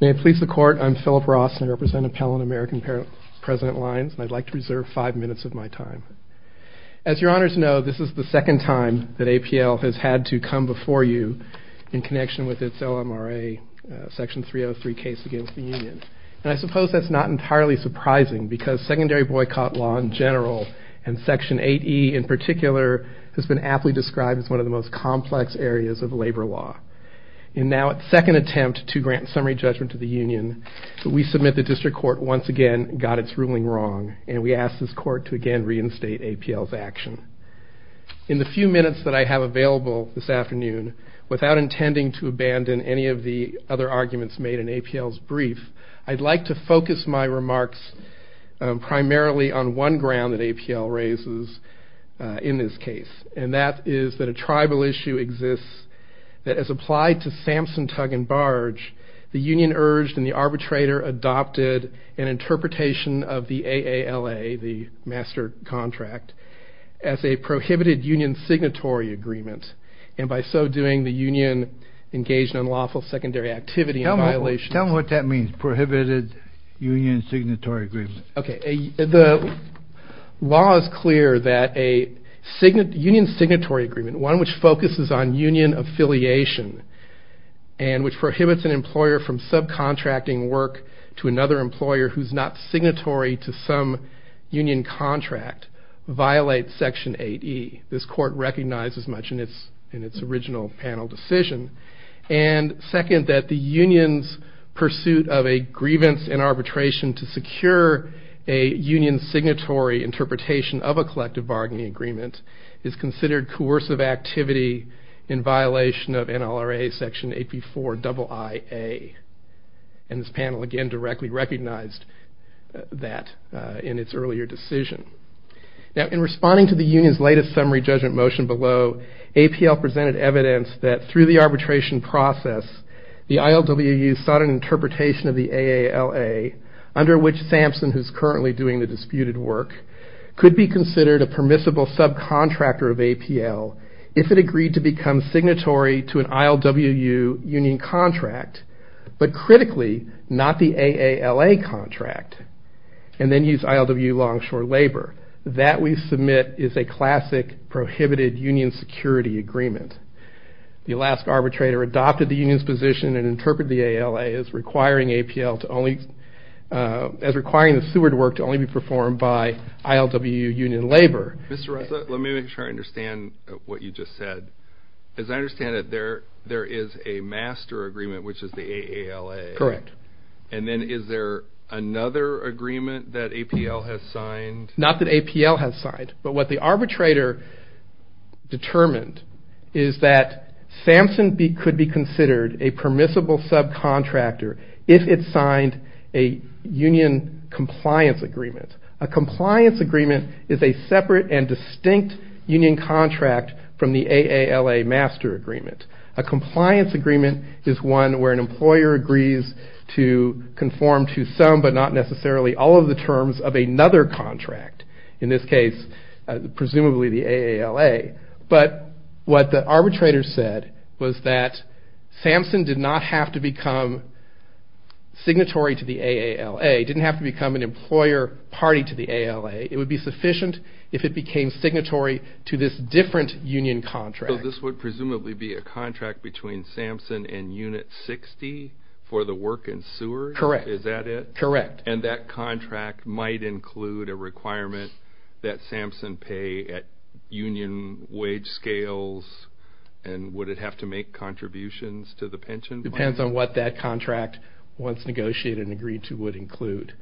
May it please the Court, I'm Philip Ross, and I represent Int'l & American President Lines, and I'd like to reserve five minutes of my time. As your Honors know, this is the second time that APL has had to come before you in connection with its OMRA Section 303 case against the Union. And I suppose that's not entirely surprising, because secondary boycott law in general, and Section 8E in particular, has been aptly described as one of the most complex areas of labor law. In now its second attempt to grant summary judgment to the Union, we submit the District Court once again got its ruling wrong, and we ask this Court to again reinstate APL's action. In the few minutes that I have available this afternoon, without intending to abandon any of the other arguments made in APL's brief, I'd like to focus my remarks primarily on one ground that APL raises in this case, and that is that a tribal issue exists that has applied to Samson, Tug & Barge, the Union urged and the arbitrator adopted an interpretation of the AALA, the master contract, as a prohibited Union signatory agreement, and by so doing, the Union engaged in unlawful secondary activity and violations. Tell me what that means, prohibited Union signatory agreement. The law is clear that a Union signatory agreement, one which focuses on Union affiliation, and which prohibits an employer from subcontracting work to another employer who's not signatory to some Union contract, violates Section 8E. This Court recognizes much in its original panel decision. And second, that the Union's pursuit of a grievance in arbitration to secure a Union signatory interpretation of a collective bargaining agreement is considered coercive activity in violation of NLRA Section 8B4 IIA. And this panel again directly recognized that in its earlier decision. Now in responding to the Union's latest summary judgment motion below, APL presented evidence that through the arbitration process, the ILWU sought an interpretation of the AALA, under which Samson, who's currently doing the disputed work, could be considered a permissible subcontractor of APL if it agreed to become signatory to an ILWU Union contract, but critically, not the AALA contract, and then use ILWU longshore labor. That we submit is a classic prohibited Union security agreement. The Alaska arbitrator adopted the Union's position and interpreted the AALA as requiring APL to only, as requiring the sewered work to only be performed by ILWU Union labor. Mr. Ressa, let me make sure I understand what you just said. As I understand it, there is a master agreement, which is the AALA. Correct. And then is there another agreement that APL has signed? Not that APL has signed, but what the arbitrator determined is that Samson could be considered a permissible subcontractor if it signed a Union compliance agreement. A compliance agreement is a separate and distinct Union contract from the AALA master agreement. A compliance agreement is one where an employer agrees to conform to some, but not necessarily all of the terms of another contract. In this case, presumably the AALA. But what the arbitrator said was that Samson did not have to become signatory to the AALA, didn't have to become an employer party to the AALA. It would be sufficient if it became signatory to this different Union contract. So this would presumably be a contract between Samson and Unit 60 for the work in sewers? Correct. Is that it? Correct. And that contract might include a requirement that Samson pay at Union wage scales, and would it have to make contributions to the pension plan? Depends on what that contract, once negotiated and agreed to, would include.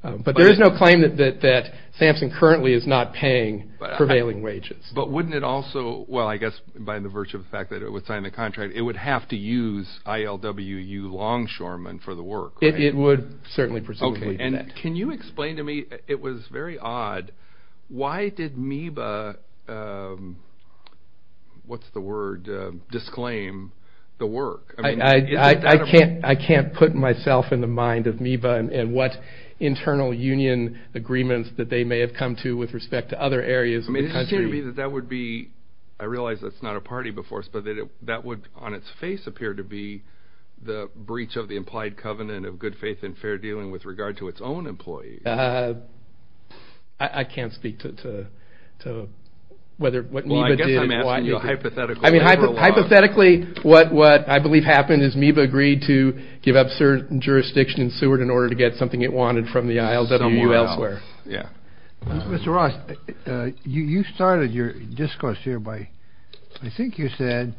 But there is no claim that Samson currently is not paying prevailing wages. But wouldn't it also, well, I guess by the virtue of the fact that it would sign the contract, it would have to use ILWU Longshoremen for the work, right? It would certainly presumably do that. Can you explain to me, it was very odd, why did MEBA, what's the word, disclaim the work? I can't put myself in the mind of MEBA and what internal Union agreements that they may have come to with respect to other areas of the country. That would be, I realize that's not a party before us, but that would on its face appear to be the breach of the implied covenant of good faith and fair dealing with regard to its own employees. I can't speak to whether what MEBA did. Well, I guess I'm asking you a hypothetical. Hypothetically, what I believe happened is MEBA agreed to give up certain jurisdiction in sewer in order to get something it wanted from the ILWU elsewhere. Yeah. Mr. Ross, you started your discourse here by, I think you said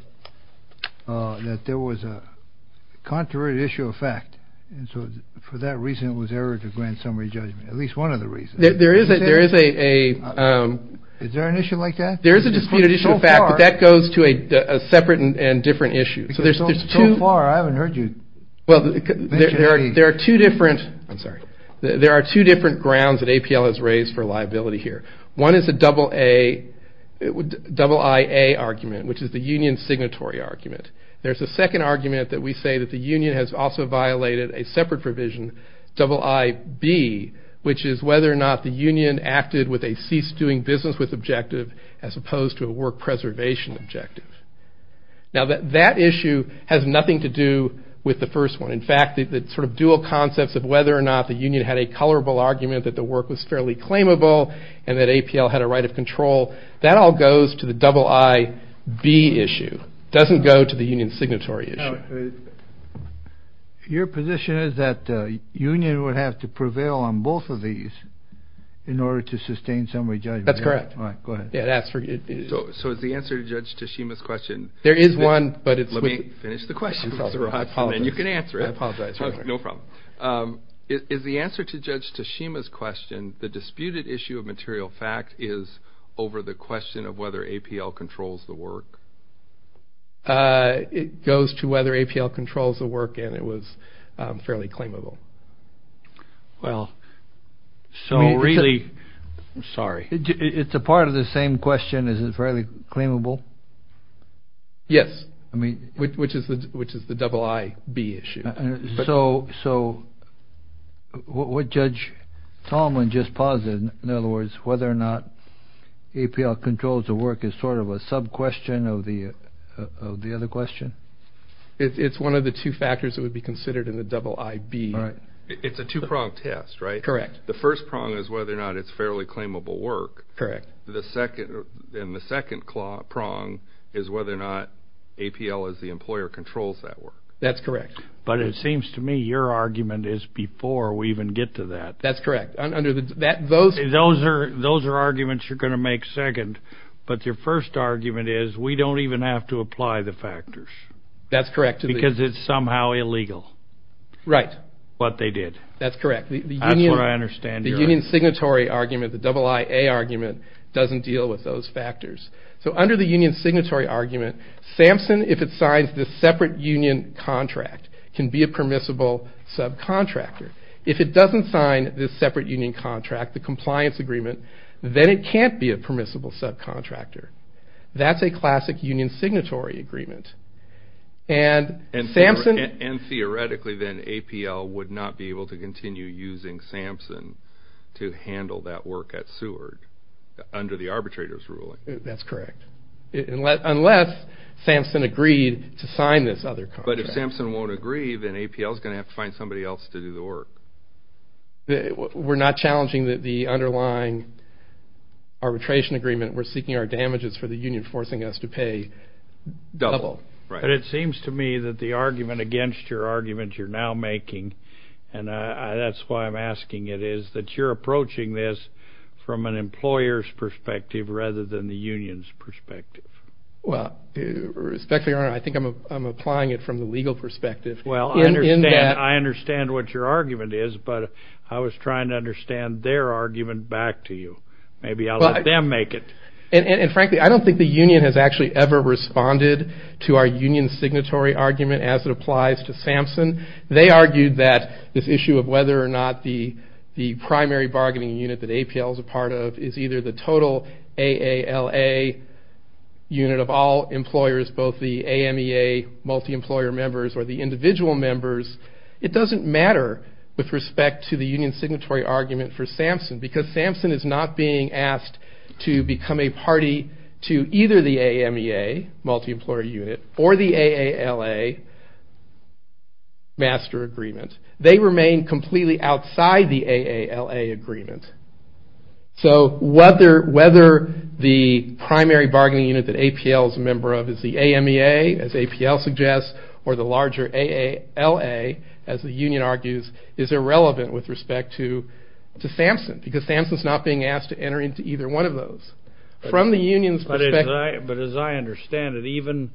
that there was a contrary issue of fact, and so for that reason it was error to grant summary judgment, at least one of the reasons. There is a, there is a. Is there an issue like that? There is a disputed issue of fact, but that goes to a separate and different issue. So far, I haven't heard you mention any. Well, there are two different. I'm sorry. There are two different grounds that APL has raised for liability here. One is the double A, double IA argument, which is the union signatory argument. There's a second argument that we say that the union has also violated a separate provision, double IB, which is whether or not the union acted with a cease doing business with objective as opposed to a work preservation objective. Now, that issue has nothing to do with the first one. In fact, the sort of dual concepts of whether or not the union had a colorable argument that the work was fairly claimable and that APL had a right of control, that all goes to the double IB issue. It doesn't go to the union signatory issue. Your position is that the union would have to prevail on both of these in order to sustain summary judgment. That's correct. All right. Go ahead. So is the answer to Judge Tashima's question. There is one, but it's with. Let me finish the question. I apologize. You can answer it. I apologize. No problem. Is the answer to Judge Tashima's question, the disputed issue of material fact, is over the question of whether APL controls the work? It goes to whether APL controls the work and it was fairly claimable. Well, so really. I'm sorry. It's a part of the same question. Is it fairly claimable? Yes. I mean. Which is the double IB issue. So what Judge Tolman just posited, in other words, whether or not APL controls the work is sort of a sub-question of the other question? It's one of the two factors that would be considered in the double IB. It's a two-prong test, right? Correct. The first prong is whether or not it's fairly claimable work. Correct. And the second prong is whether or not APL as the employer controls that work. That's correct. But it seems to me your argument is before we even get to that. That's correct. Those are arguments you're going to make second, but your first argument is we don't even have to apply the factors. That's correct. Because it's somehow illegal. Right. What they did. That's correct. That's what I understand. The union signatory argument, the double IA argument, doesn't deal with those factors. So under the union signatory argument, SAMHSA, if it signs this separate union contract, can be a permissible subcontractor. If it doesn't sign this separate union contract, the compliance agreement, then it can't be a permissible subcontractor. That's a classic union signatory agreement. And theoretically then APL would not be able to continue using SAMHSA to handle that work at Seward under the arbitrator's ruling. That's correct. Unless SAMHSA agreed to sign this other contract. But if SAMHSA won't agree, then APL is going to have to find somebody else to do the work. We're not challenging the underlying arbitration agreement. We're seeking our damages for the union forcing us to pay double. But it seems to me that the argument against your argument you're now making, and that's why I'm asking it, is that you're approaching this from an employer's perspective rather than the union's perspective. Well, respectfully, Your Honor, I think I'm applying it from the legal perspective. Well, I understand what your argument is, but I was trying to understand their argument back to you. Maybe I'll let them make it. And frankly, I don't think the union has actually ever responded to our union signatory argument as it applies to SAMHSA. They argued that this issue of whether or not the primary bargaining unit that APL is a part of is either the total AALA unit of all employers, both the AMEA multi-employer members or the individual members, it doesn't matter with respect to the union signatory argument for SAMHSA because SAMHSA is not being asked to become a party to either the AMEA multi-employer unit or the AALA master agreement. They remain completely outside the AALA agreement. So whether the primary bargaining unit that APL is a member of is the AMEA, as APL suggests, or the larger AALA, as the union argues, is irrelevant with respect to SAMHSA because SAMHSA is not being asked to enter into either one of those. From the union's perspective... But as I understand it, even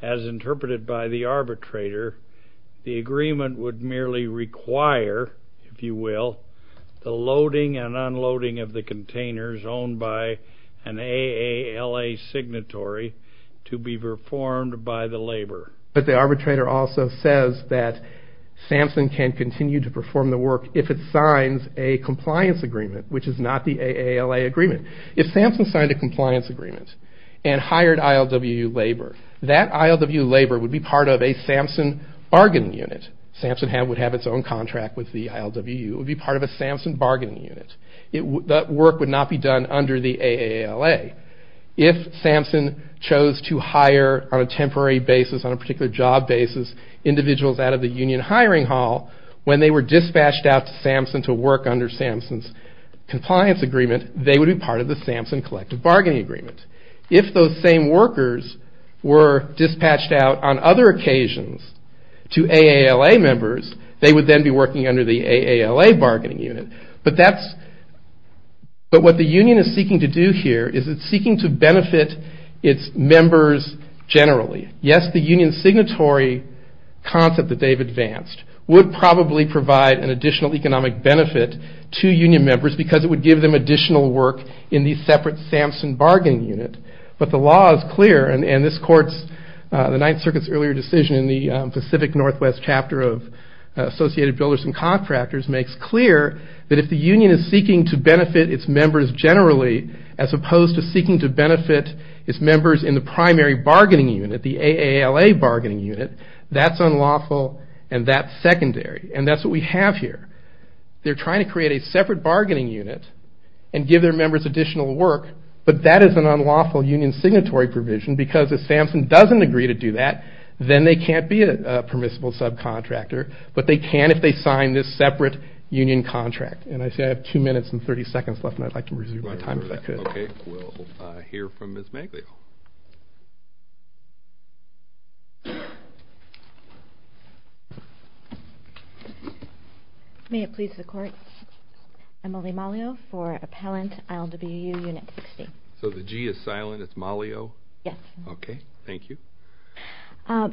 as interpreted by the arbitrator, the agreement would merely require, if you will, the loading and unloading of the containers owned by an AALA signatory to be performed by the labor. But the arbitrator also says that SAMHSA can continue to perform the work if it signs a compliance agreement, which is not the AALA agreement. If SAMHSA signed a compliance agreement and hired ILWU labor, that ILWU labor would be part of a SAMHSA bargaining unit. SAMHSA would have its own contract with the ILWU. It would be part of a SAMHSA bargaining unit. That work would not be done under the AALA. If SAMHSA chose to hire, on a temporary basis, on a particular job basis, individuals out of the union hiring hall, when they were dispatched out to SAMHSA to work under SAMHSA's compliance agreement, they would be part of the SAMHSA collective bargaining agreement. If those same workers were dispatched out on other occasions to AALA members, they would then be working under the AALA bargaining unit. But what the union is seeking to do here is it's seeking to benefit its members generally. Yes, the union signatory concept that they've advanced would probably provide an additional economic benefit to union members because it would give them additional work in the separate SAMHSA bargaining unit. But the law is clear, and the Ninth Circuit's earlier decision in the Pacific Northwest chapter of Associated Builders and Contractors makes clear that if the union is seeking to benefit its members generally, as opposed to seeking to benefit its members in the primary bargaining unit, the AALA bargaining unit, that's unlawful and that's secondary. And that's what we have here. They're trying to create a separate bargaining unit and give their members additional work, but that is an unlawful union signatory provision because if SAMHSA doesn't agree to do that, then they can't be a permissible subcontractor, but they can if they sign this separate union contract. And I see I have 2 minutes and 30 seconds left, and I'd like to resume my time if I could. Okay, we'll hear from Ms. Maglio. May it please the Court, Emily Maglio for Appellant, ILWU Unit 60. So the G is silent, it's Maglio? Yes. Okay, thank you. I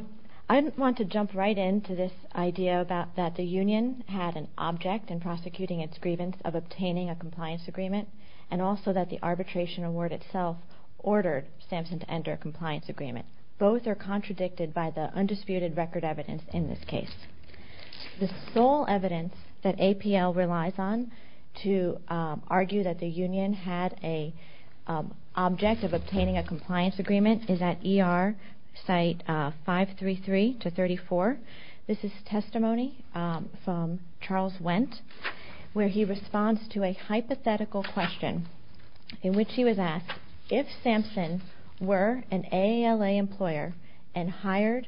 want to jump right into this idea that the union had an object in prosecuting its grievance of obtaining a compliance agreement and also that the arbitration award itself ordered SAMHSA to enter a compliance agreement. Both are contradicted by the undisputed record evidence in this case. The sole evidence that APL relies on to argue that the union had an object of obtaining a compliance agreement is at ER site 533-34. This is testimony from Charles Wendt where he responds to a hypothetical question in which he was asked, if SAMHSA were an AALA employer and hired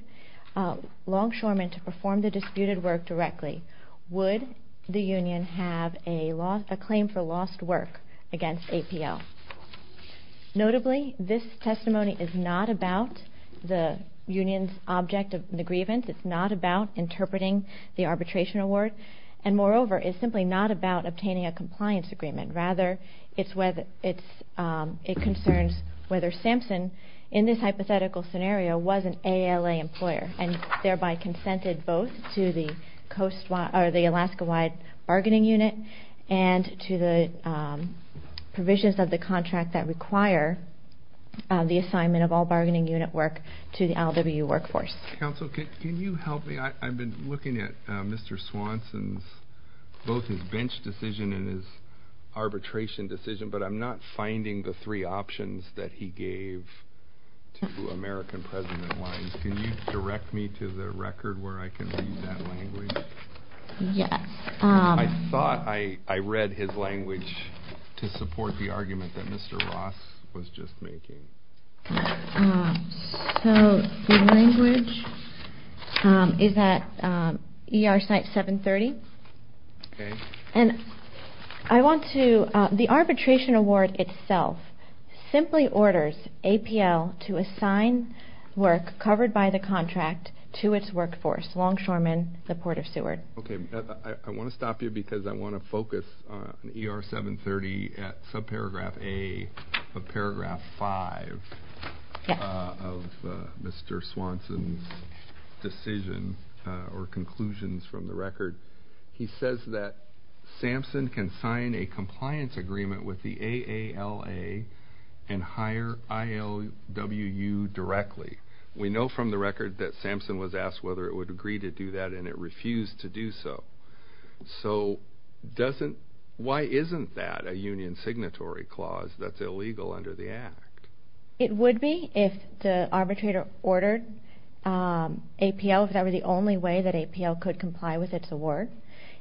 longshoremen to perform the disputed work directly, would the union have a claim for lost work against APL? Notably, this testimony is not about the union's object of the grievance, it's not about interpreting the arbitration award, and moreover, it's simply not about obtaining a compliance agreement. Rather, it concerns whether SAMHSA, in this hypothetical scenario, was an AALA employer and thereby consented both to the Alaska-wide bargaining unit and to the provisions of the contract that require the assignment of all bargaining unit work to the LWU workforce. Counsel, can you help me? I've been looking at Mr. Swanson's both his bench decision and his arbitration decision, but I'm not finding the three options that he gave to American President Wines. Can you direct me to the record where I can read that language? Yes. I thought I read his language to support the argument that Mr. Ross was just making. So the language is at ER site 730. Okay. And I want to, the arbitration award itself simply orders APL to assign work covered by the contract to its workforce, Longshoremen, the Port of Seward. Okay, I want to stop you because I want to focus on ER 730 at subparagraph A of paragraph 5 of Mr. Swanson's decision or conclusions from the record. He says that Samson can sign a compliance agreement with the AALA and hire ILWU directly. We know from the record that Samson was asked whether it would agree to do that, and it refused to do so. So why isn't that a union signatory clause that's illegal under the Act? It would be if the arbitrator ordered APL, if that were the only way that APL could comply with its award.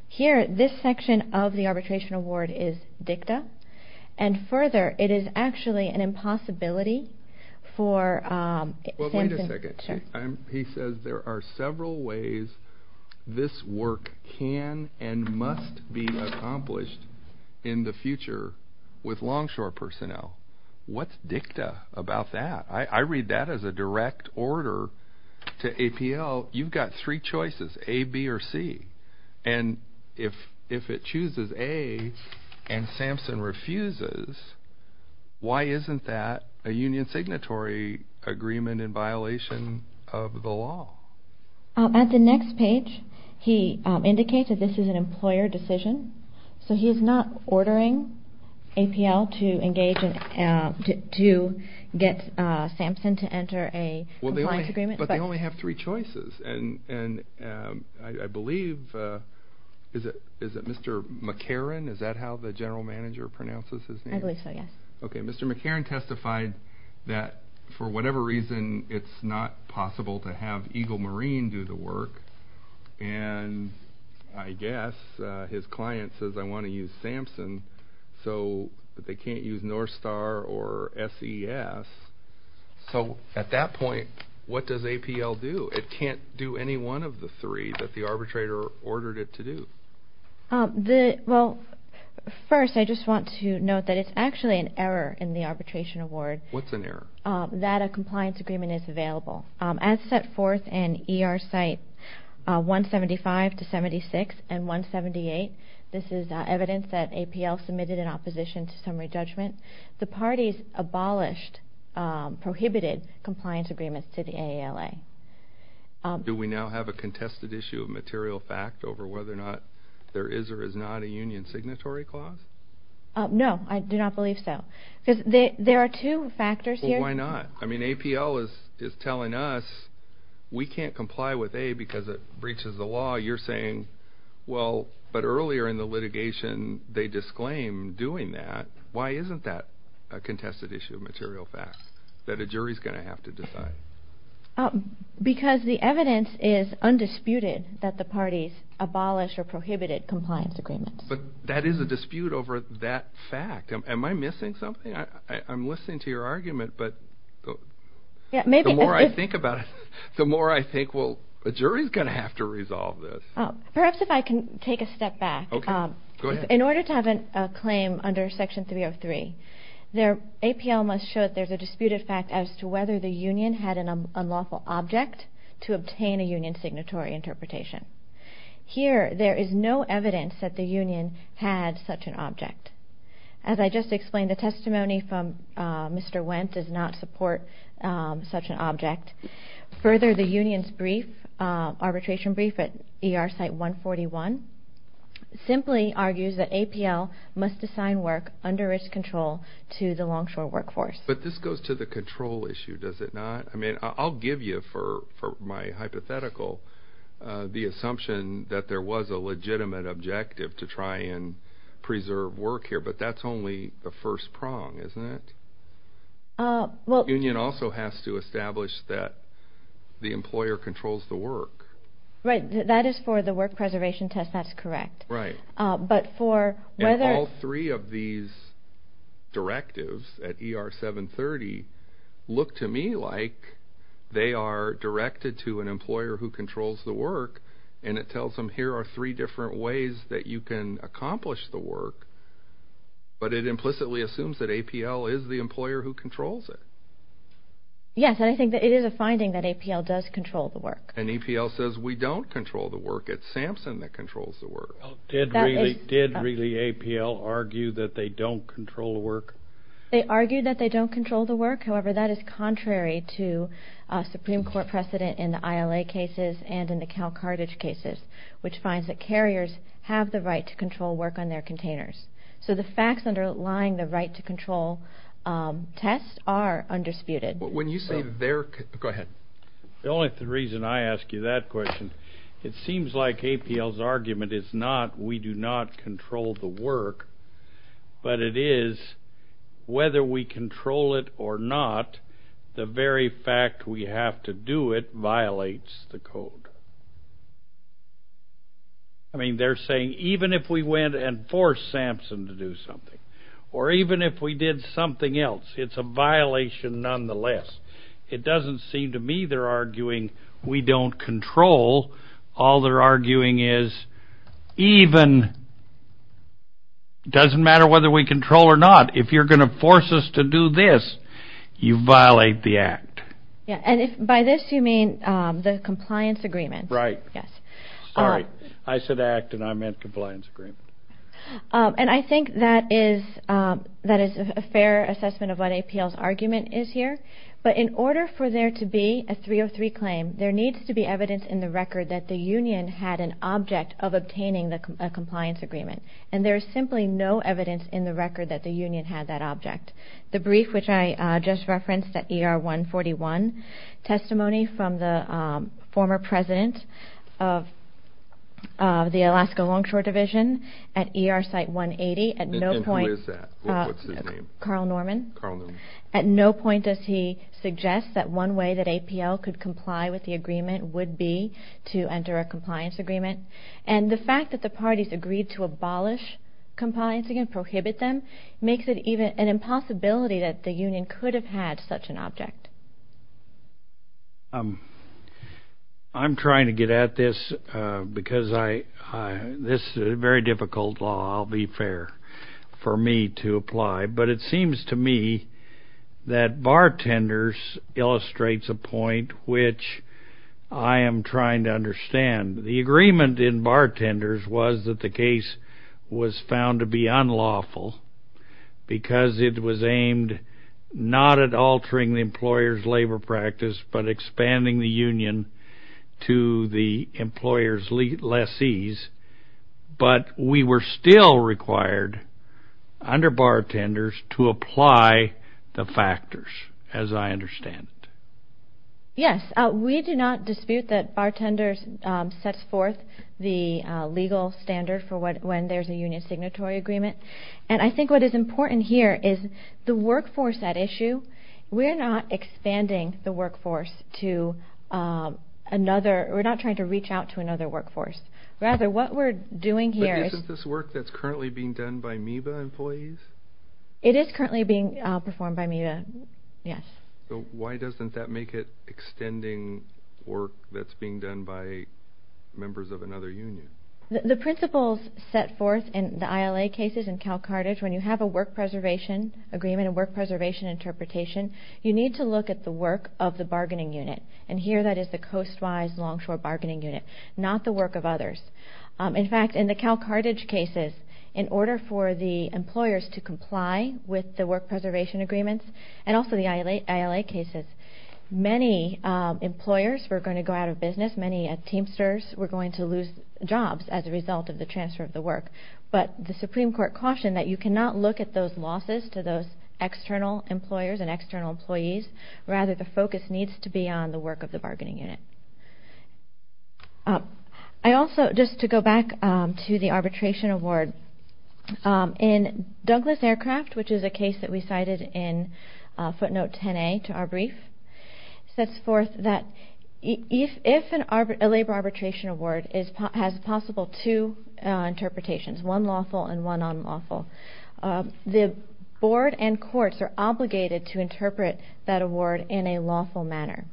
Here, this section of the arbitration award is dicta, and further, it is actually an impossibility for Samson. Well, wait a second. He says there are several ways this work can and must be accomplished in the future with Longshore personnel. What's dicta about that? I read that as a direct order to APL. You've got three choices, A, B, or C. And if it chooses A and Samson refuses, why isn't that a union signatory agreement in violation of the law? At the next page, he indicates that this is an employer decision. So he is not ordering APL to engage and to get Samson to enter a compliance agreement. But they only have three choices. And I believe, is it Mr. McCarron, is that how the general manager pronounces his name? I believe so, yes. Okay, Mr. McCarron testified that for whatever reason, it's not possible to have Eagle Marine do the work. And I guess his client says, I want to use Samson, but they can't use Northstar or SES. So at that point, what does APL do? It can't do any one of the three that the arbitrator ordered it to do. Well, first I just want to note that it's actually an error in the arbitration award. What's an error? That a compliance agreement is available. As set forth in ER site 175 to 76 and 178, this is evidence that APL submitted in opposition to summary judgment, the parties abolished, prohibited compliance agreements to the AALA. Do we now have a contested issue of material fact over whether or not there is or is not a union signatory clause? No, I do not believe so. Because there are two factors here. Well, why not? I mean, APL is telling us we can't comply with A because it breaches the law. You're saying, well, but earlier in the litigation they disclaimed doing that. Why isn't that a contested issue of material fact that a jury is going to have to decide? Because the evidence is undisputed that the parties abolished or prohibited compliance agreements. But that is a dispute over that fact. Am I missing something? I'm listening to your argument, but the more I think about it, the more I think, well, a jury is going to have to resolve this. Perhaps if I can take a step back. Okay, go ahead. In order to have a claim under Section 303, APL must show that there's a disputed fact as to whether the union had an unlawful object to obtain a union signatory interpretation. Here, there is no evidence that the union had such an object. As I just explained, the testimony from Mr. Wendt does not support such an object. Further, the union's arbitration brief at ER Site 141 simply argues that APL must assign work under its control to the longshore workforce. But this goes to the control issue, does it not? I mean, I'll give you, for my hypothetical, the assumption that there was a legitimate objective to try and preserve work here, but that's only the first prong, isn't it? The union also has to establish that the employer controls the work. Right, that is for the work preservation test, that's correct. Right. And all three of these directives at ER 730 look to me like they are directed to an employer who controls the work, and it tells them here are three different ways that you can accomplish the work, but it implicitly assumes that APL is the employer who controls it. Yes, and I think that it is a finding that APL does control the work. And APL says we don't control the work. It's SAMSUN that controls the work. Did really APL argue that they don't control the work? They argue that they don't control the work. However, that is contrary to a Supreme Court precedent in the ILA cases and in the Calcartage cases, which finds that carriers have the right to control work on their containers. So the facts underlying the right-to-control test are undisputed. When you say they're, go ahead. The only reason I ask you that question, it seems like APL's argument is not we do not control the work, but it is whether we control it or not, the very fact we have to do it violates the code. I mean, they're saying even if we went and forced SAMSUN to do something or even if we did something else, it's a violation nonetheless. It doesn't seem to me they're arguing we don't control. All they're arguing is even, doesn't matter whether we control or not, if you're going to force us to do this, you violate the act. Yeah, and by this you mean the compliance agreement. Right. Yes. Sorry, I said act and I meant compliance agreement. And I think that is a fair assessment of what APL's argument is here. But in order for there to be a 303 claim, there needs to be evidence in the record that the union had an object of obtaining a compliance agreement, and there is simply no evidence in the record that the union had that object. The brief which I just referenced at ER 141, testimony from the former president of the Alaska Longshore Division at ER Site 180. And who is that? What's his name? Carl Norman. Carl Norman. At what point does he suggest that one way that APL could comply with the agreement would be to enter a compliance agreement? And the fact that the parties agreed to abolish compliance again, prohibit them, makes it even an impossibility that the union could have had such an object. I'm trying to get at this because this is a very difficult law, I'll be fair, for me to apply. But it seems to me that bartenders illustrates a point which I am trying to understand. The agreement in bartenders was that the case was found to be unlawful because it was aimed not at altering the employer's labor practice but expanding the union to the employer's lessees. But we were still required under bartenders to apply the factors as I understand it. Yes, we do not dispute that bartenders sets forth the legal standard for when there's a union signatory agreement. And I think what is important here is the workforce at issue, we're not expanding the workforce to another, we're not trying to reach out to another workforce. Rather, what we're doing here is... But isn't this work that's currently being done by MEBA employees? It is currently being performed by MEBA, yes. So why doesn't that make it extending work that's being done by members of another union? The principles set forth in the ILA cases in Cal Carthage, when you have a work preservation agreement, a work preservation interpretation, you need to look at the work of the bargaining unit. And here that is the Coast Wise Longshore Bargaining Unit, not the work of others. In fact, in the Cal Carthage cases, in order for the employers to comply with the work preservation agreements, and also the ILA cases, many employers were going to go out of business, many teamsters were going to lose jobs as a result of the transfer of the work. But the Supreme Court cautioned that you cannot look at those losses to those external employers and external employees. Rather, the focus needs to be on the work of the bargaining unit. I also, just to go back to the arbitration award, in Douglas Aircraft, which is a case that we cited in footnote 10A to our brief, sets forth that if a labor arbitration award has possible two interpretations, one lawful and one unlawful, the board and courts are obligated to interpret that award in a lawful manner.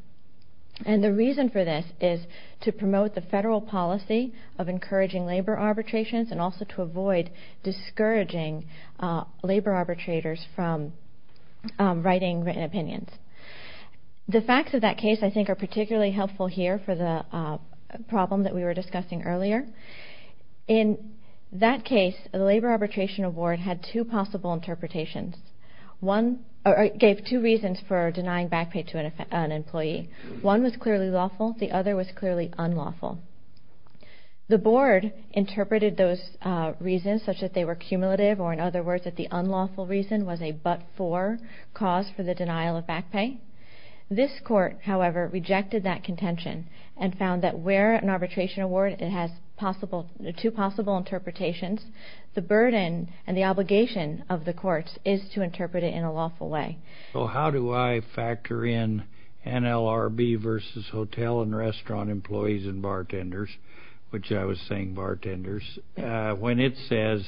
And the reason for this is to promote the federal policy of encouraging labor arbitrations and also to avoid discouraging labor arbitrators from writing written opinions. The facts of that case, I think, are particularly helpful here for the problem that we were discussing earlier. In that case, the labor arbitration award had two possible interpretations. One gave two reasons for denying back pay to an employee. One was clearly lawful. The other was clearly unlawful. The board interpreted those reasons such that they were cumulative or, in other words, that the unlawful reason was a but-for cause for the denial of back pay. This court, however, rejected that contention and found that where an arbitration award has two possible interpretations, the burden and the obligation of the courts is to interpret it in a lawful way. So how do I factor in NLRB versus hotel and restaurant employees and bartenders, which I was saying bartenders, when it says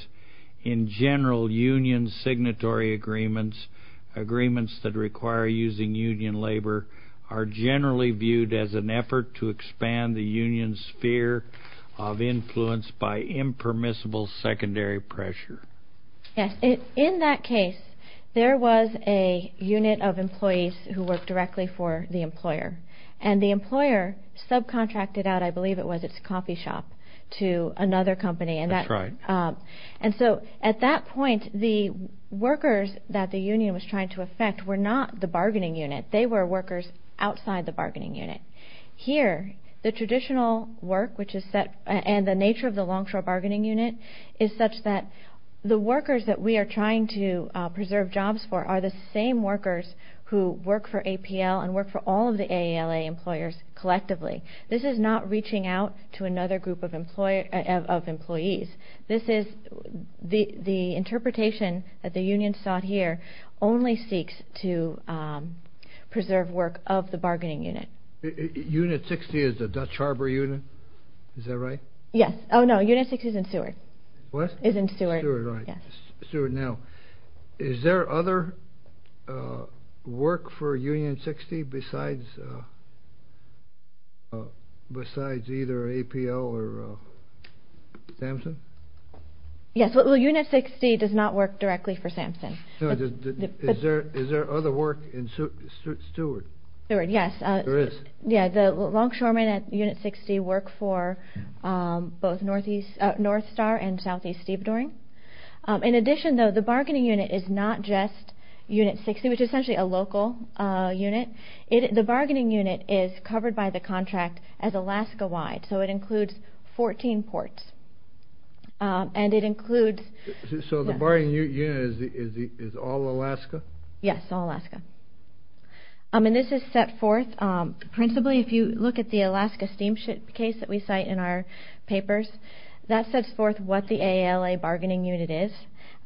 in general union signatory agreements, agreements that require using union labor, are generally viewed as an effort to expand the union's sphere of influence by impermissible secondary pressure? Yes. In that case, there was a unit of employees who worked directly for the employer. And the employer subcontracted out, I believe it was, its coffee shop to another company. That's right. And so at that point, the workers that the union was trying to affect were not the bargaining unit. They were workers outside the bargaining unit. Here, the traditional work and the nature of the longshore bargaining unit is such that the workers that we are trying to preserve jobs for are the same workers who work for APL and work for all of the AALA employers collectively. This is not reaching out to another group of employees. This is the interpretation that the union sought here only seeks to preserve work of the bargaining unit. Unit 60 is the Dutch Harbor unit. Is that right? Yes. Oh, no. Unit 60 is in Seward. What? Is in Seward. Seward, right. Now, is there other work for Union 60 besides either APL or Samson? Yes. Well, Unit 60 does not work directly for Samson. Is there other work in Seward? Seward, yes. There is? Yeah, the longshoremen at Unit 60 work for both North Star and Southeast Stevedoring. In addition, though, the bargaining unit is not just Unit 60, which is essentially a local unit. The bargaining unit is covered by the contract as Alaska-wide, so it includes 14 ports. And it includes— So the bargaining unit is all Alaska? Yes, all Alaska. And this is set forth principally— if you look at the Alaska Steamship case that we cite in our papers, that sets forth what the AALA bargaining unit is,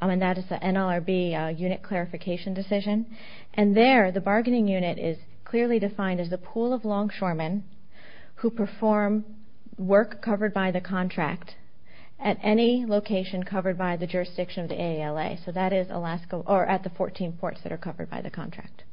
and that is the NLRB unit clarification decision. And there, the bargaining unit is clearly defined as the pool of longshoremen who perform work covered by the contract at any location covered by the jurisdiction of the AALA, so that is Alaska—or at the 14 ports that are covered by the contract.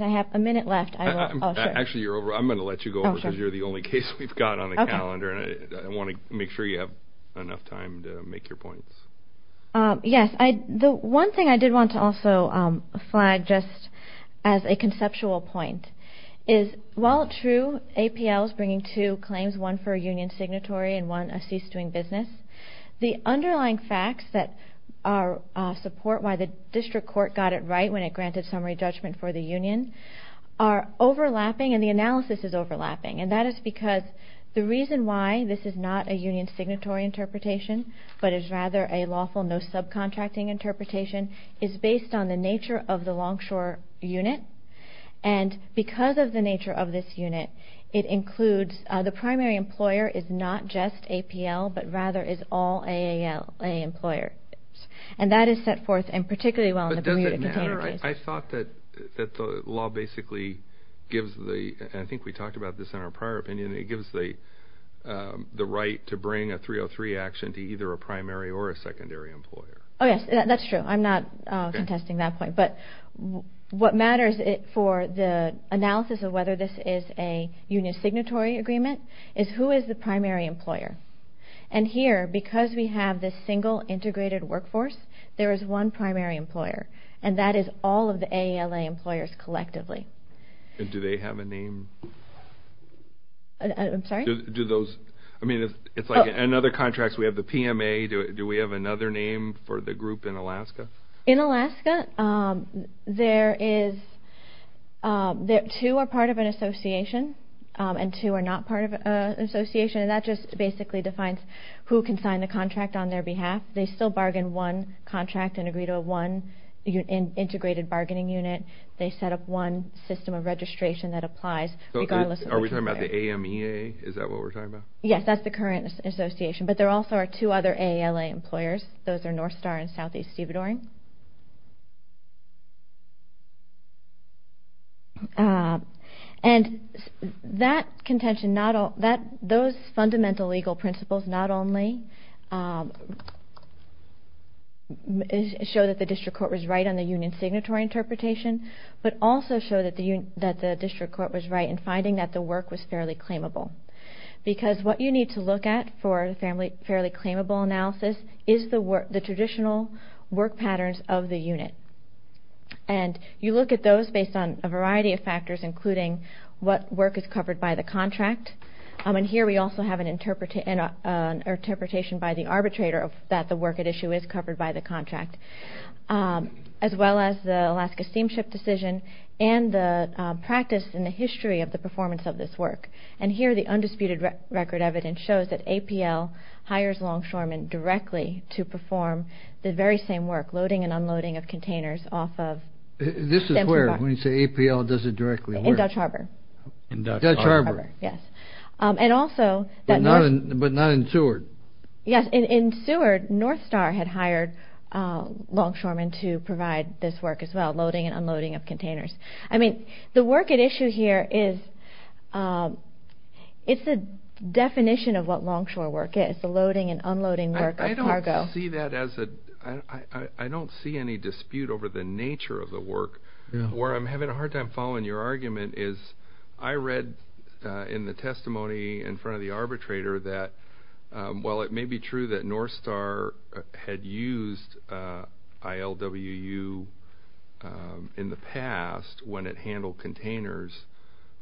I have a minute left. Actually, I'm going to let you go over because you're the only case we've got on the calendar. I want to make sure you have enough time to make your points. Yes. The one thing I did want to also flag just as a conceptual point is, while true, APL is bringing two claims, one for a union signatory and one a cease-doing business, the underlying facts that support why the district court got it right when it granted summary judgment for the union are overlapping, and the analysis is overlapping. And that is because the reason why this is not a union signatory interpretation but is rather a lawful no-subcontracting interpretation is based on the nature of the longshore unit. And because of the nature of this unit, it includes the primary employer is not just APL but rather is all AALA employers. And that is set forth and particularly well in the community container case. But does it matter? I thought that the law basically gives the—and I think we talked about this in our prior opinion— the right to bring a 303 action to either a primary or a secondary employer. Oh, yes, that's true. I'm not contesting that point. But what matters for the analysis of whether this is a union signatory agreement is who is the primary employer. And here, because we have this single integrated workforce, there is one primary employer, and that is all of the AALA employers collectively. And do they have a name? I'm sorry? Do those—I mean, it's like in other contracts we have the PMA. Do we have another name for the group in Alaska? In Alaska, two are part of an association and two are not part of an association, and that just basically defines who can sign the contract on their behalf. They still bargain one contract and agree to a one integrated bargaining unit. They set up one system of registration that applies regardless of which employer. Are we talking about the AMEA? Is that what we're talking about? Yes, that's the current association. But there also are two other AALA employers. Those are North Star and Southeast Stevedoring. And that contention—those fundamental legal principles not only show that the district court was right on the union signatory interpretation, but also show that the district court was right in finding that the work was fairly claimable. Because what you need to look at for a fairly claimable analysis is the traditional work patterns of the unit. And you look at those based on a variety of factors, including what work is covered by the contract. And here we also have an interpretation by the arbitrator that the work at issue is covered by the contract, as well as the Alaska Steamship Decision and the practice and the history of the performance of this work. And here the undisputed record evidence shows that APL hires Longshoremen directly to perform the very same work, loading and unloading of containers off of— This is where, when you say APL does it directly, where? In Dutch Harbor. In Dutch Harbor. Dutch Harbor, yes. And also— But not in Seward. Yes, in Seward, Northstar had hired Longshoremen to provide this work as well, loading and unloading of containers. I mean, the work at issue here is—it's the definition of what Longshore work is, the loading and unloading work of cargo. I don't see that as a—I don't see any dispute over the nature of the work. Where I'm having a hard time following your argument is I read in the testimony in front of the arbitrator that while it may be true that Northstar had used ILWU in the past when it handled containers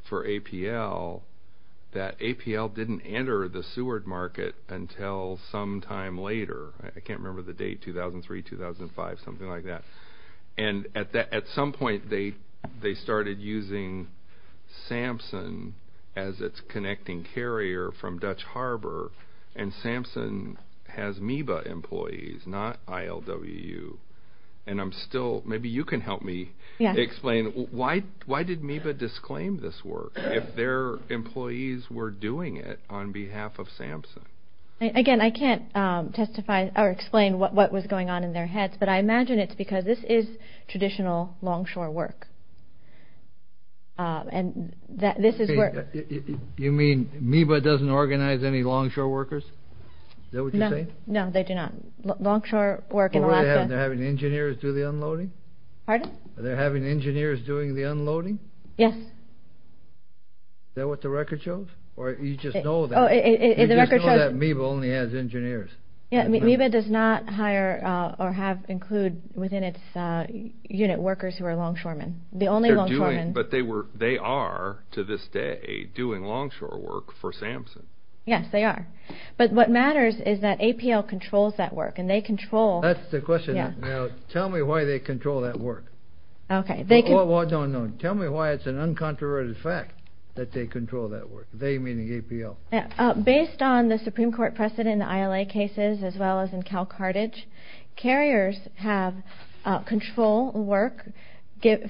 for APL, that APL didn't enter the Seward market until some time later. I can't remember the date, 2003, 2005, something like that. And at some point, they started using SAMSUN as its connecting carrier from Dutch Harbor, and SAMSUN has MEBA employees, not ILWU. And I'm still—maybe you can help me explain. Why did MEBA disclaim this work if their employees were doing it on behalf of SAMSUN? Again, I can't testify or explain what was going on in their heads, but I imagine it's because this is traditional Longshore work. And this is where— You mean MEBA doesn't organize any Longshore workers? Is that what you're saying? No, they do not. Longshore work in Alaska— Are they having engineers do the unloading? Pardon? Are they having engineers doing the unloading? Yes. Is that what the record shows? Or you just know that— Oh, the record shows— You just know that MEBA only has engineers. Yeah, MEBA does not hire or include within its unit workers who are Longshoremen. The only Longshoremen— But they are, to this day, doing Longshore work for SAMSUN. Yes, they are. But what matters is that APL controls that work, and they control— That's the question. Now, tell me why they control that work. Okay. Well, no, no. Tell me why it's an uncontroverted fact that they control that work, they meaning APL. Based on the Supreme Court precedent in the ILA cases as well as in CalCartage, carriers have control work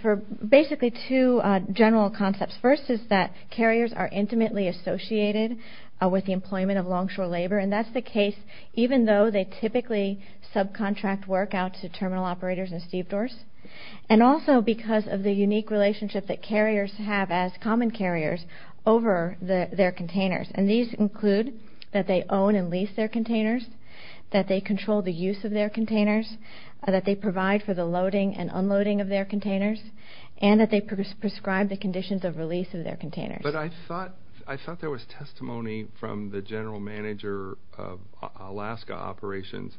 for basically two general concepts. First is that carriers are intimately associated with the employment of Longshore labor, and that's the case even though they typically subcontract work out to terminal operators and stevedores, and also because of the unique relationship that carriers have as common carriers over their containers, and these include that they own and lease their containers, that they control the use of their containers, that they provide for the loading and unloading of their containers, and that they prescribe the conditions of release of their containers. But I thought there was testimony from the general manager of Alaska operations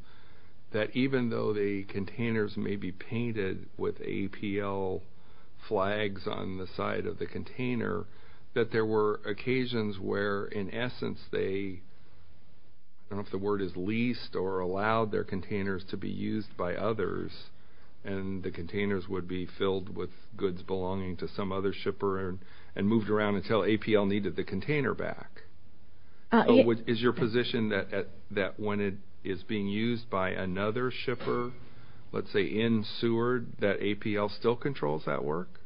that even though the containers may be painted with APL flags on the side of the container, that there were occasions where, in essence, they, I don't know if the word is leased, or allowed their containers to be used by others, and the containers would be filled with goods belonging to some other shipper and moved around until APL needed the container back. Is your position that when it is being used by another shipper, let's say in Seward, that APL still controls that work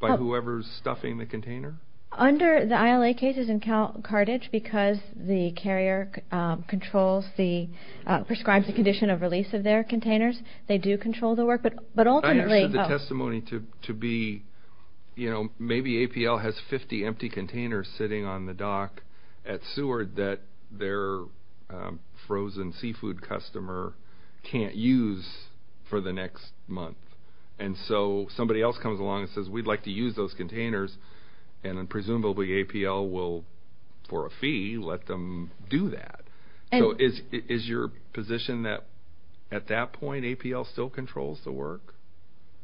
by whoever is stuffing the container? Under the ILA cases in Carthage, because the carrier controls the, prescribes the condition of release of their containers, they do control the work, but ultimately... There's testimony to be, you know, maybe APL has 50 empty containers sitting on the dock at Seward that their frozen seafood customer can't use for the next month. And so somebody else comes along and says, we'd like to use those containers, and presumably APL will, for a fee, let them do that. So is your position that at that point APL still controls the work?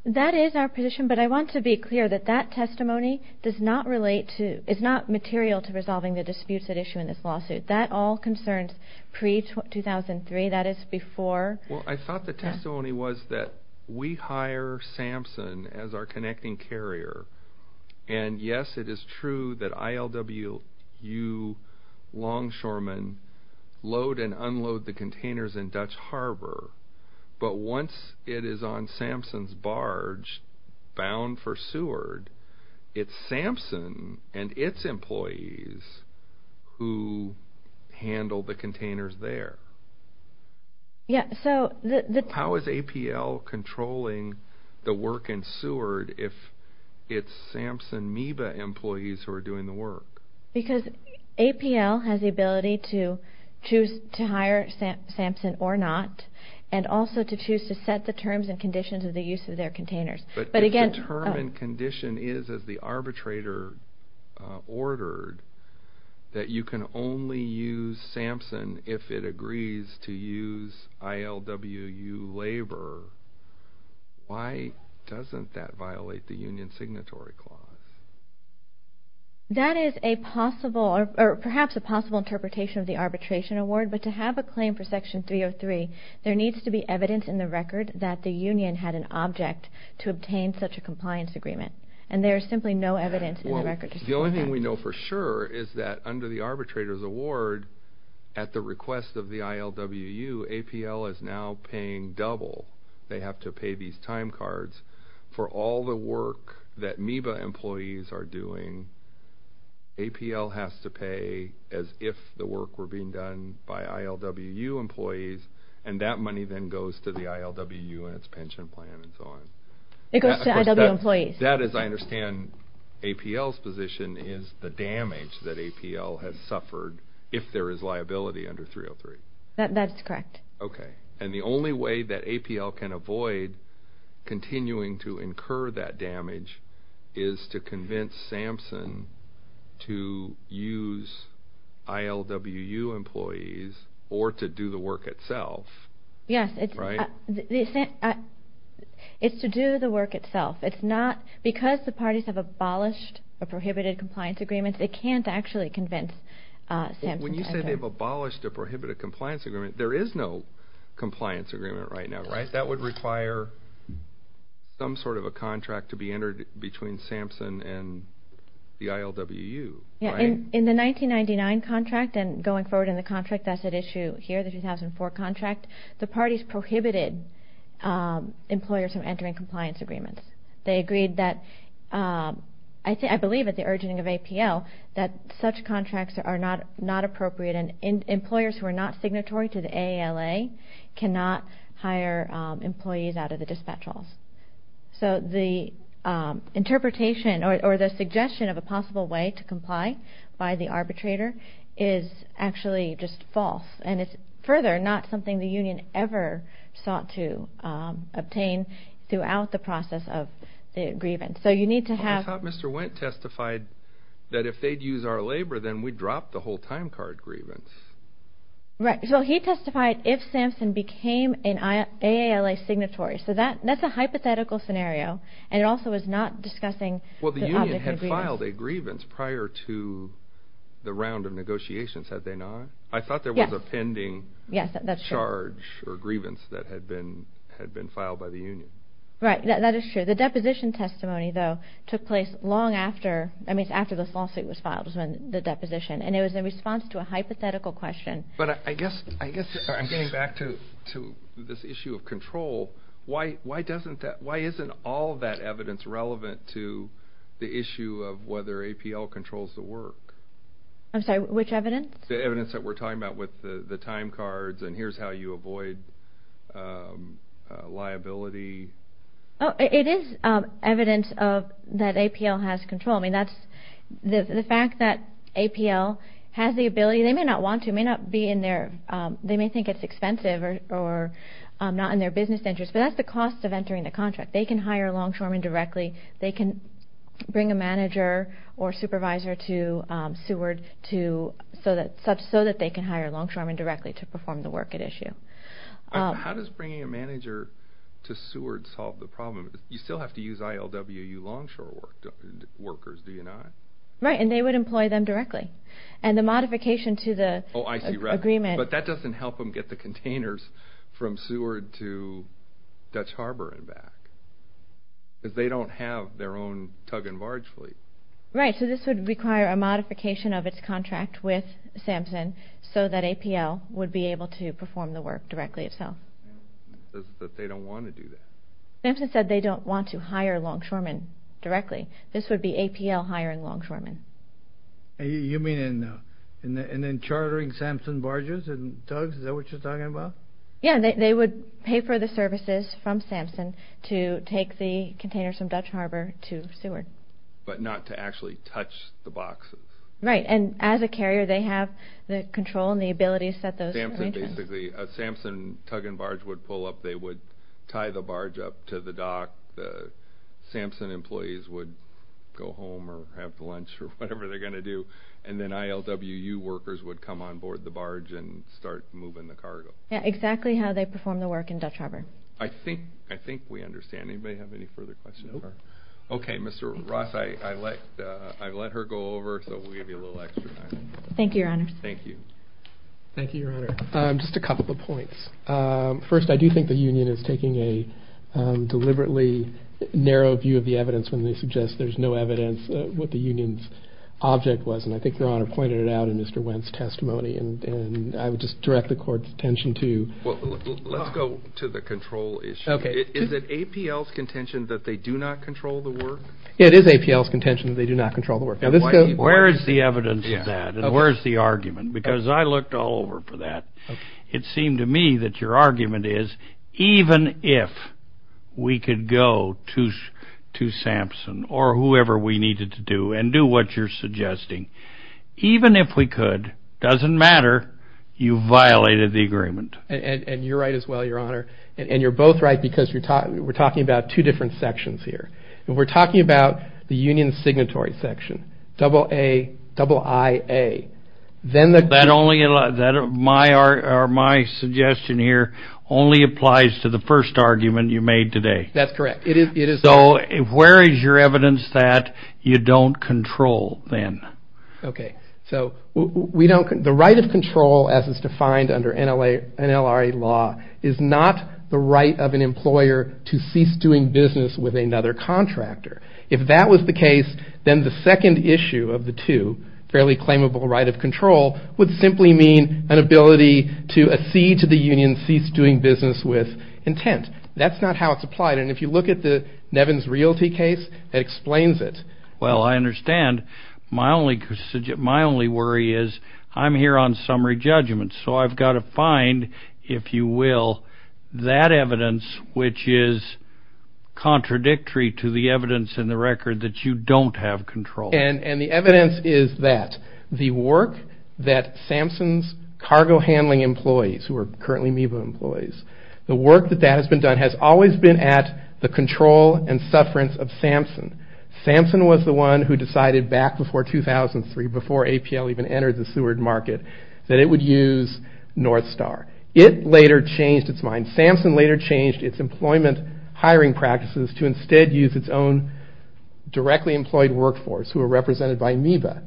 That is our position, but I want to be clear that that testimony does not relate to, is not material to resolving the disputes at issue in this lawsuit. That all concerns pre-2003, that is before... Well, I thought the testimony was that we hire Samson as our connecting carrier, and yes, it is true that ILWU longshoremen load and unload the containers in Dutch Harbor, but once it is on Samson's barge, bound for Seward, it's Samson and its employees who handle the containers there. Yeah, so... How is APL controlling the work in Seward if it's Samson MEBA employees who are doing the work? Because APL has the ability to choose to hire Samson or not, and also to choose to set the terms and conditions of the use of their containers. But again... But if the term and condition is, as the arbitrator ordered, that you can only use Samson if it agrees to use ILWU labor, why doesn't that violate the union signatory clause? That is a possible, or perhaps a possible interpretation of the arbitration award, but to have a claim for Section 303, there needs to be evidence in the record that the union had an object to obtain such a compliance agreement, and there is simply no evidence in the record to support that. Well, the only thing we know for sure is that under the arbitrator's award, at the request of the ILWU, APL is now paying double. They have to pay these time cards for all the work that MEBA employees are doing. APL has to pay as if the work were being done by ILWU employees, and that money then goes to the ILWU and its pension plan and so on. It goes to ILWU employees. That, as I understand APL's position, is the damage that APL has suffered if there is liability under 303. That's correct. Okay. And the only way that APL can avoid continuing to incur that damage is to convince SAMHSA to use ILWU employees or to do the work itself. Yes. Right? It's to do the work itself. It's not because the parties have abolished a prohibited compliance agreement, they can't actually convince SAMHSA. When you say they've abolished a prohibited compliance agreement, there is no compliance agreement right now, right? That would require some sort of a contract to be entered between SAMHSA and the ILWU, right? In the 1999 contract and going forward in the contract that's at issue here, the 2004 contract, the parties prohibited employers from entering compliance agreements. They agreed that, I believe at the urging of APL, that such contracts are not appropriate and employers who are not signatory to the AALA cannot hire employees out of the dispatch halls. So the interpretation or the suggestion of a possible way to comply by the arbitrator is actually just false. And it's further not something the union ever sought to obtain throughout the process of the grievance. I thought Mr. Wendt testified that if they'd use our labor, then we'd drop the whole time card grievance. Right. So he testified if SAMHSA became an AALA signatory. So that's a hypothetical scenario, and it also is not discussing the object of grievance. Well, the union had filed a grievance prior to the round of negotiations, had they not? I thought there was a pending charge or grievance that had been filed by the union. Right. That is true. The deposition testimony, though, took place long after this lawsuit was filed, the deposition, and it was in response to a hypothetical question. But I guess I'm getting back to this issue of control. Why isn't all that evidence relevant to the issue of whether APL controls the work? I'm sorry, which evidence? The evidence that we're talking about with the time cards and here's how you avoid liability. It is evidence that APL has control. The fact that APL has the ability, they may not want to, they may think it's expensive or not in their business interest, but that's the cost of entering the contract. They can hire a longshoreman directly. They can bring a manager or supervisor to Seward so that they can hire a longshoreman directly to perform the work at issue. How does bringing a manager to Seward solve the problem? You still have to use ILWU longshore workers, do you not? Right, and they would employ them directly. And the modification to the agreement. Oh, I see. But that doesn't help them get the containers from Seward to Dutch Harbor and back because they don't have their own tug and barge fleet. Right. So this would require a modification of its contract with Samson so that APL would be able to perform the work directly itself. But they don't want to do that. Samson said they don't want to hire longshoremen directly. This would be APL hiring longshoremen. You mean in chartering Samson barges and tugs? Is that what you're talking about? Yeah, they would pay for the services from Samson to take the containers from Dutch Harbor to Seward. But not to actually touch the boxes. Right. And as a carrier, they have the control and the ability to set those arrangements. Basically, a Samson tug and barge would pull up. They would tie the barge up to the dock. The Samson employees would go home or have lunch or whatever they're going to do. And then ILWU workers would come on board the barge and start moving the cargo. Yeah, exactly how they perform the work in Dutch Harbor. I think we understand. Anybody have any further questions? Okay, Mr. Ross, I let her go over so we'll give you a little extra time. Thank you, Your Honor. Thank you. Thank you, Your Honor. Just a couple of points. First, I do think the union is taking a deliberately narrow view of the evidence when they suggest there's no evidence what the union's object was. And I think Your Honor pointed it out in Mr. Wendt's testimony. And I would just direct the Court's attention to— Well, let's go to the control issue. Is it APL's contention that they do not control the work? It is APL's contention that they do not control the work. Where is the evidence of that? And where is the argument? Because I looked all over for that. It seemed to me that your argument is even if we could go to Sampson or whoever we needed to do and do what you're suggesting, even if we could, doesn't matter, you violated the agreement. And you're right as well, Your Honor. And you're both right because we're talking about two different sections here. And we're talking about the union signatory section, double A, double IA. That only—my suggestion here only applies to the first argument you made today. That's correct. So where is your evidence that you don't control then? Okay. So we don't—the right of control as it's defined under NLRA law is not the right of an employer to cease doing business with another contractor. If that was the case, then the second issue of the two, fairly claimable right of control, would simply mean an ability to accede to the union's cease doing business with intent. That's not how it's applied. And if you look at the Nevins Realty case, that explains it. Well, I understand. My only worry is I'm here on summary judgment. So I've got to find, if you will, that evidence which is contradictory to the evidence in the record that you don't have control. And the evidence is that the work that Samson's cargo handling employees, who are currently MEVA employees, the work that that has been done has always been at the control and sufferance of Samson. Samson was the one who decided back before 2003, before APL even entered the Seward market, that it would use Northstar. It later changed its mind. Samson later changed its employment hiring practices to instead use its own directly employed workforce, who are represented by MEVA.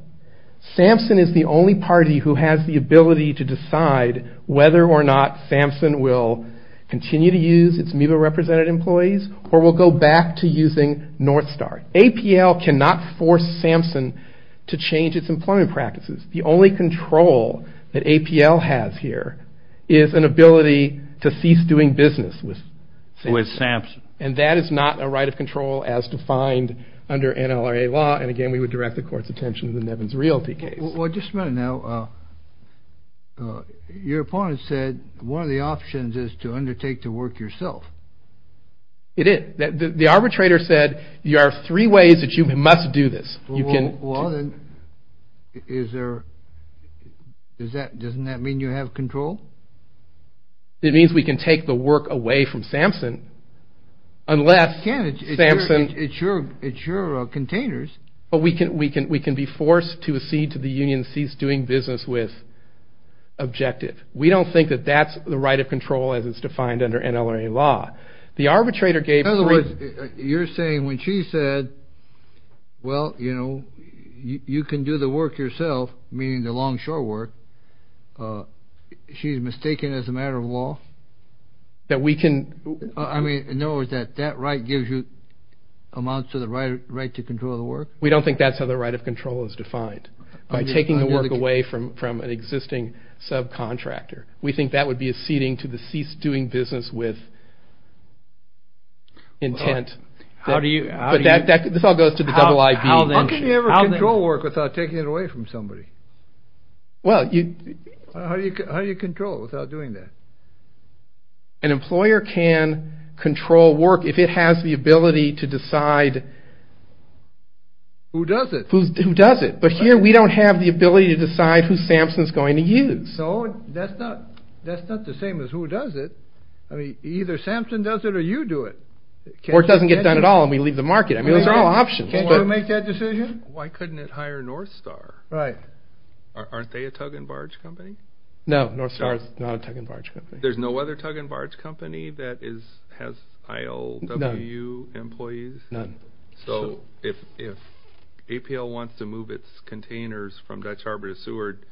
Samson is the only party who has the ability to decide whether or not Samson will continue to use its MEVA represented employees or will go back to using Northstar. APL cannot force Samson to change its employment practices. The only control that APL has here is an ability to cease doing business with Samson. With Samson. And that is not a right of control as defined under NLRA law. And again, we would direct the court's attention to the Nevins Realty case. Well, just a minute now. Your opponent said one of the options is to undertake the work yourself. It is. The arbitrator said there are three ways that you must do this. Well, then, is there, doesn't that mean you have control? It means we can take the work away from Samson unless Samson. It's your containers. But we can be forced to accede to the union cease doing business with objective. We don't think that that's the right of control as it's defined under NLRA law. The arbitrator gave three. You're saying when she said, well, you know, you can do the work yourself, meaning the long short work, she's mistaken as a matter of law? That we can. I mean, in other words, that that right gives you amounts to the right to control the work? We don't think that's how the right of control is defined. By taking the work away from an existing subcontractor. We think that would be acceding to the cease doing business with intent. How do you get that? This all goes to the double I. How can you ever control work without taking it away from somebody? Well, you. How do you control without doing that? An employer can control work if it has the ability to decide. Who does it? Who does it? But here we don't have the ability to decide who Samson is going to use. So that's not the same as who does it. I mean, either Samson does it or you do it. Or it doesn't get done at all and we leave the market. I mean, those are all options. Why would we make that decision? Why couldn't it hire Northstar? Right. Aren't they a tug and barge company? No, Northstar is not a tug and barge company. There's no other tug and barge company that has IOW employees? None. So if APL wants to move its containers from Dutch Harbor to Seward,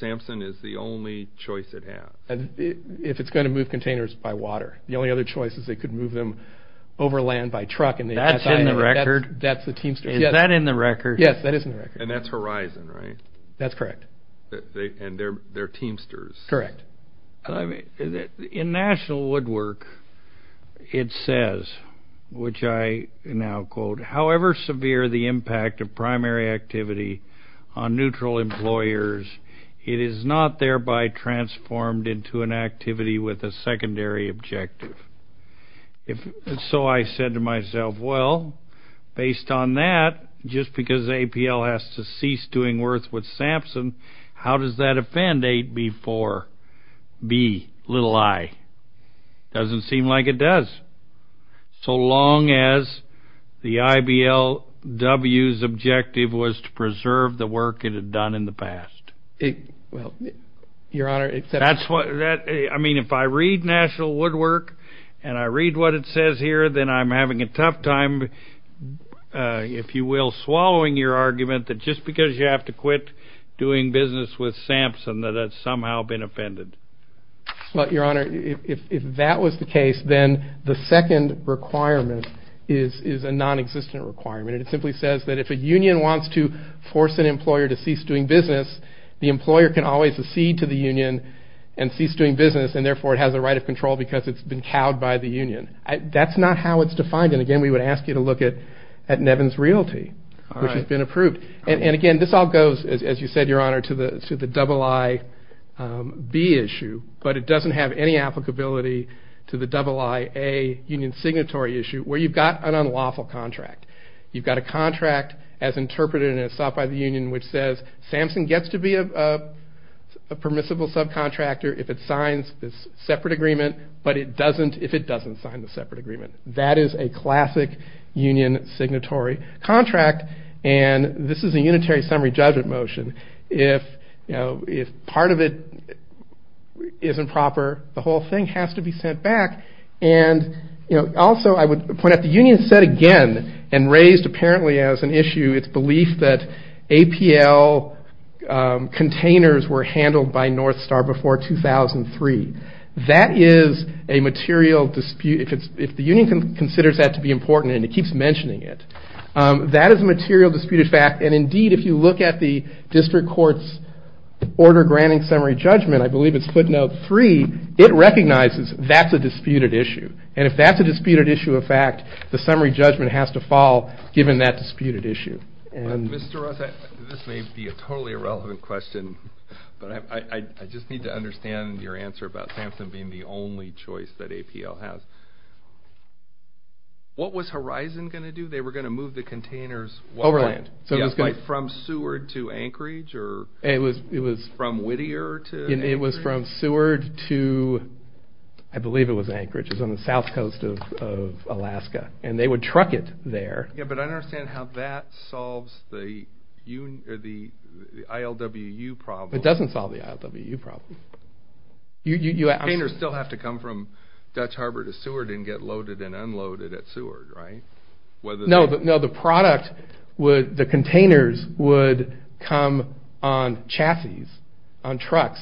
Samson is the only choice it has? If it's going to move containers by water. The only other choice is they could move them over land by truck. That's in the record? That's the Teamsters. Is that in the record? Yes, that is in the record. And that's Horizon, right? That's correct. And they're Teamsters? Correct. In National Woodwork, it says, which I now quote, however severe the impact of primary activity on neutral employers, it is not thereby transformed into an activity with a secondary objective. So I said to myself, well, based on that, just because APL has to cease doing worse with Samson, how does that offend AB4b, little i? It doesn't seem like it does. So long as the IBLW's objective was to preserve the work it had done in the past. Well, Your Honor, except for that. I mean, if I read National Woodwork and I read what it says here, then I'm having a tough time, if you will, swallowing your argument that just because you have to quit doing business with Samson that it's somehow been offended. Well, Your Honor, if that was the case, then the second requirement is a nonexistent requirement. It simply says that if a union wants to force an employer to cease doing business, the employer can always accede to the union and cease doing business, and therefore it has a right of control because it's been cowed by the union. That's not how it's defined. And, again, we would ask you to look at Nevin's Realty, which has been approved. And, again, this all goes, as you said, Your Honor, to the IIB issue, but it doesn't have any applicability to the IIA union signatory issue where you've got an unlawful contract. You've got a contract as interpreted and as sought by the union which says Samson gets to be a permissible subcontractor if it signs this separate agreement, but it doesn't if it doesn't sign the separate agreement. That is a classic union signatory contract, and this is a unitary summary judgment motion. If part of it isn't proper, the whole thing has to be sent back. And, also, I would point out the union said again and raised apparently as an issue its belief that APL containers were handled by Northstar before 2003. That is a material dispute. If the union considers that to be important and it keeps mentioning it, that is a material disputed fact, and, indeed, if you look at the district court's order granting summary judgment, I believe it's split note three, it recognizes that's a disputed issue. And if that's a disputed issue of fact, the summary judgment has to fall given that disputed issue. Mr. Ross, this may be a totally irrelevant question, but I just need to understand your answer about SAMHSA being the only choice that APL has. What was Horizon going to do? They were going to move the containers from Seward to Anchorage or from Whittier to Anchorage? It was from Seward to I believe it was Anchorage. It was on the south coast of Alaska, and they would truck it there. But I don't understand how that solves the ILWU problem. It doesn't solve the ILWU problem. Containers still have to come from Dutch Harbor to Seward and get loaded and unloaded at Seward, right? No, the containers would come on chassis, on trucks,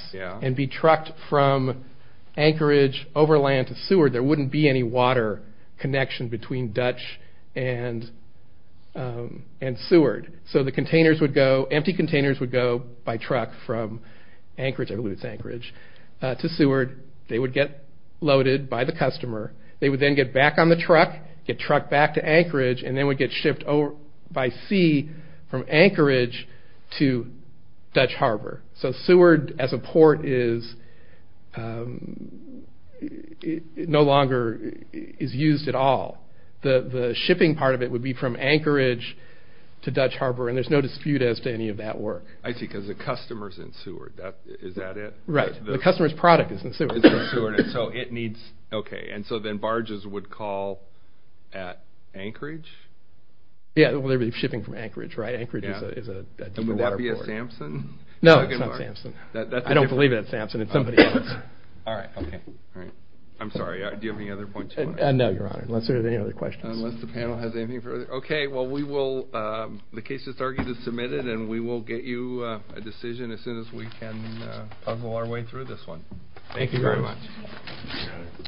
connection between Dutch and Seward. So the containers would go, empty containers would go by truck from Anchorage, I believe it's Anchorage, to Seward. They would get loaded by the customer. They would then get back on the truck, get trucked back to Anchorage, and then would get shipped by sea from Anchorage to Dutch Harbor. So Seward as a port no longer is used at all. The shipping part of it would be from Anchorage to Dutch Harbor, and there's no dispute as to any of that work. I see, because the customer's in Seward, is that it? Right, the customer's product is in Seward. So it needs, okay, and so then barges would call at Anchorage? Yeah, shipping from Anchorage, right? Anchorage is a deeper water port. Is it going to be at Sampson? No, it's not Sampson. I don't believe it at Sampson, it's somebody else. All right, okay, all right. I'm sorry, do you have any other points you want to make? No, Your Honor, unless there's any other questions. Unless the panel has anything further. Okay, well we will, the case has already been submitted, and we will get you a decision as soon as we can puzzle our way through this one. Thank you very much. Thank you very much.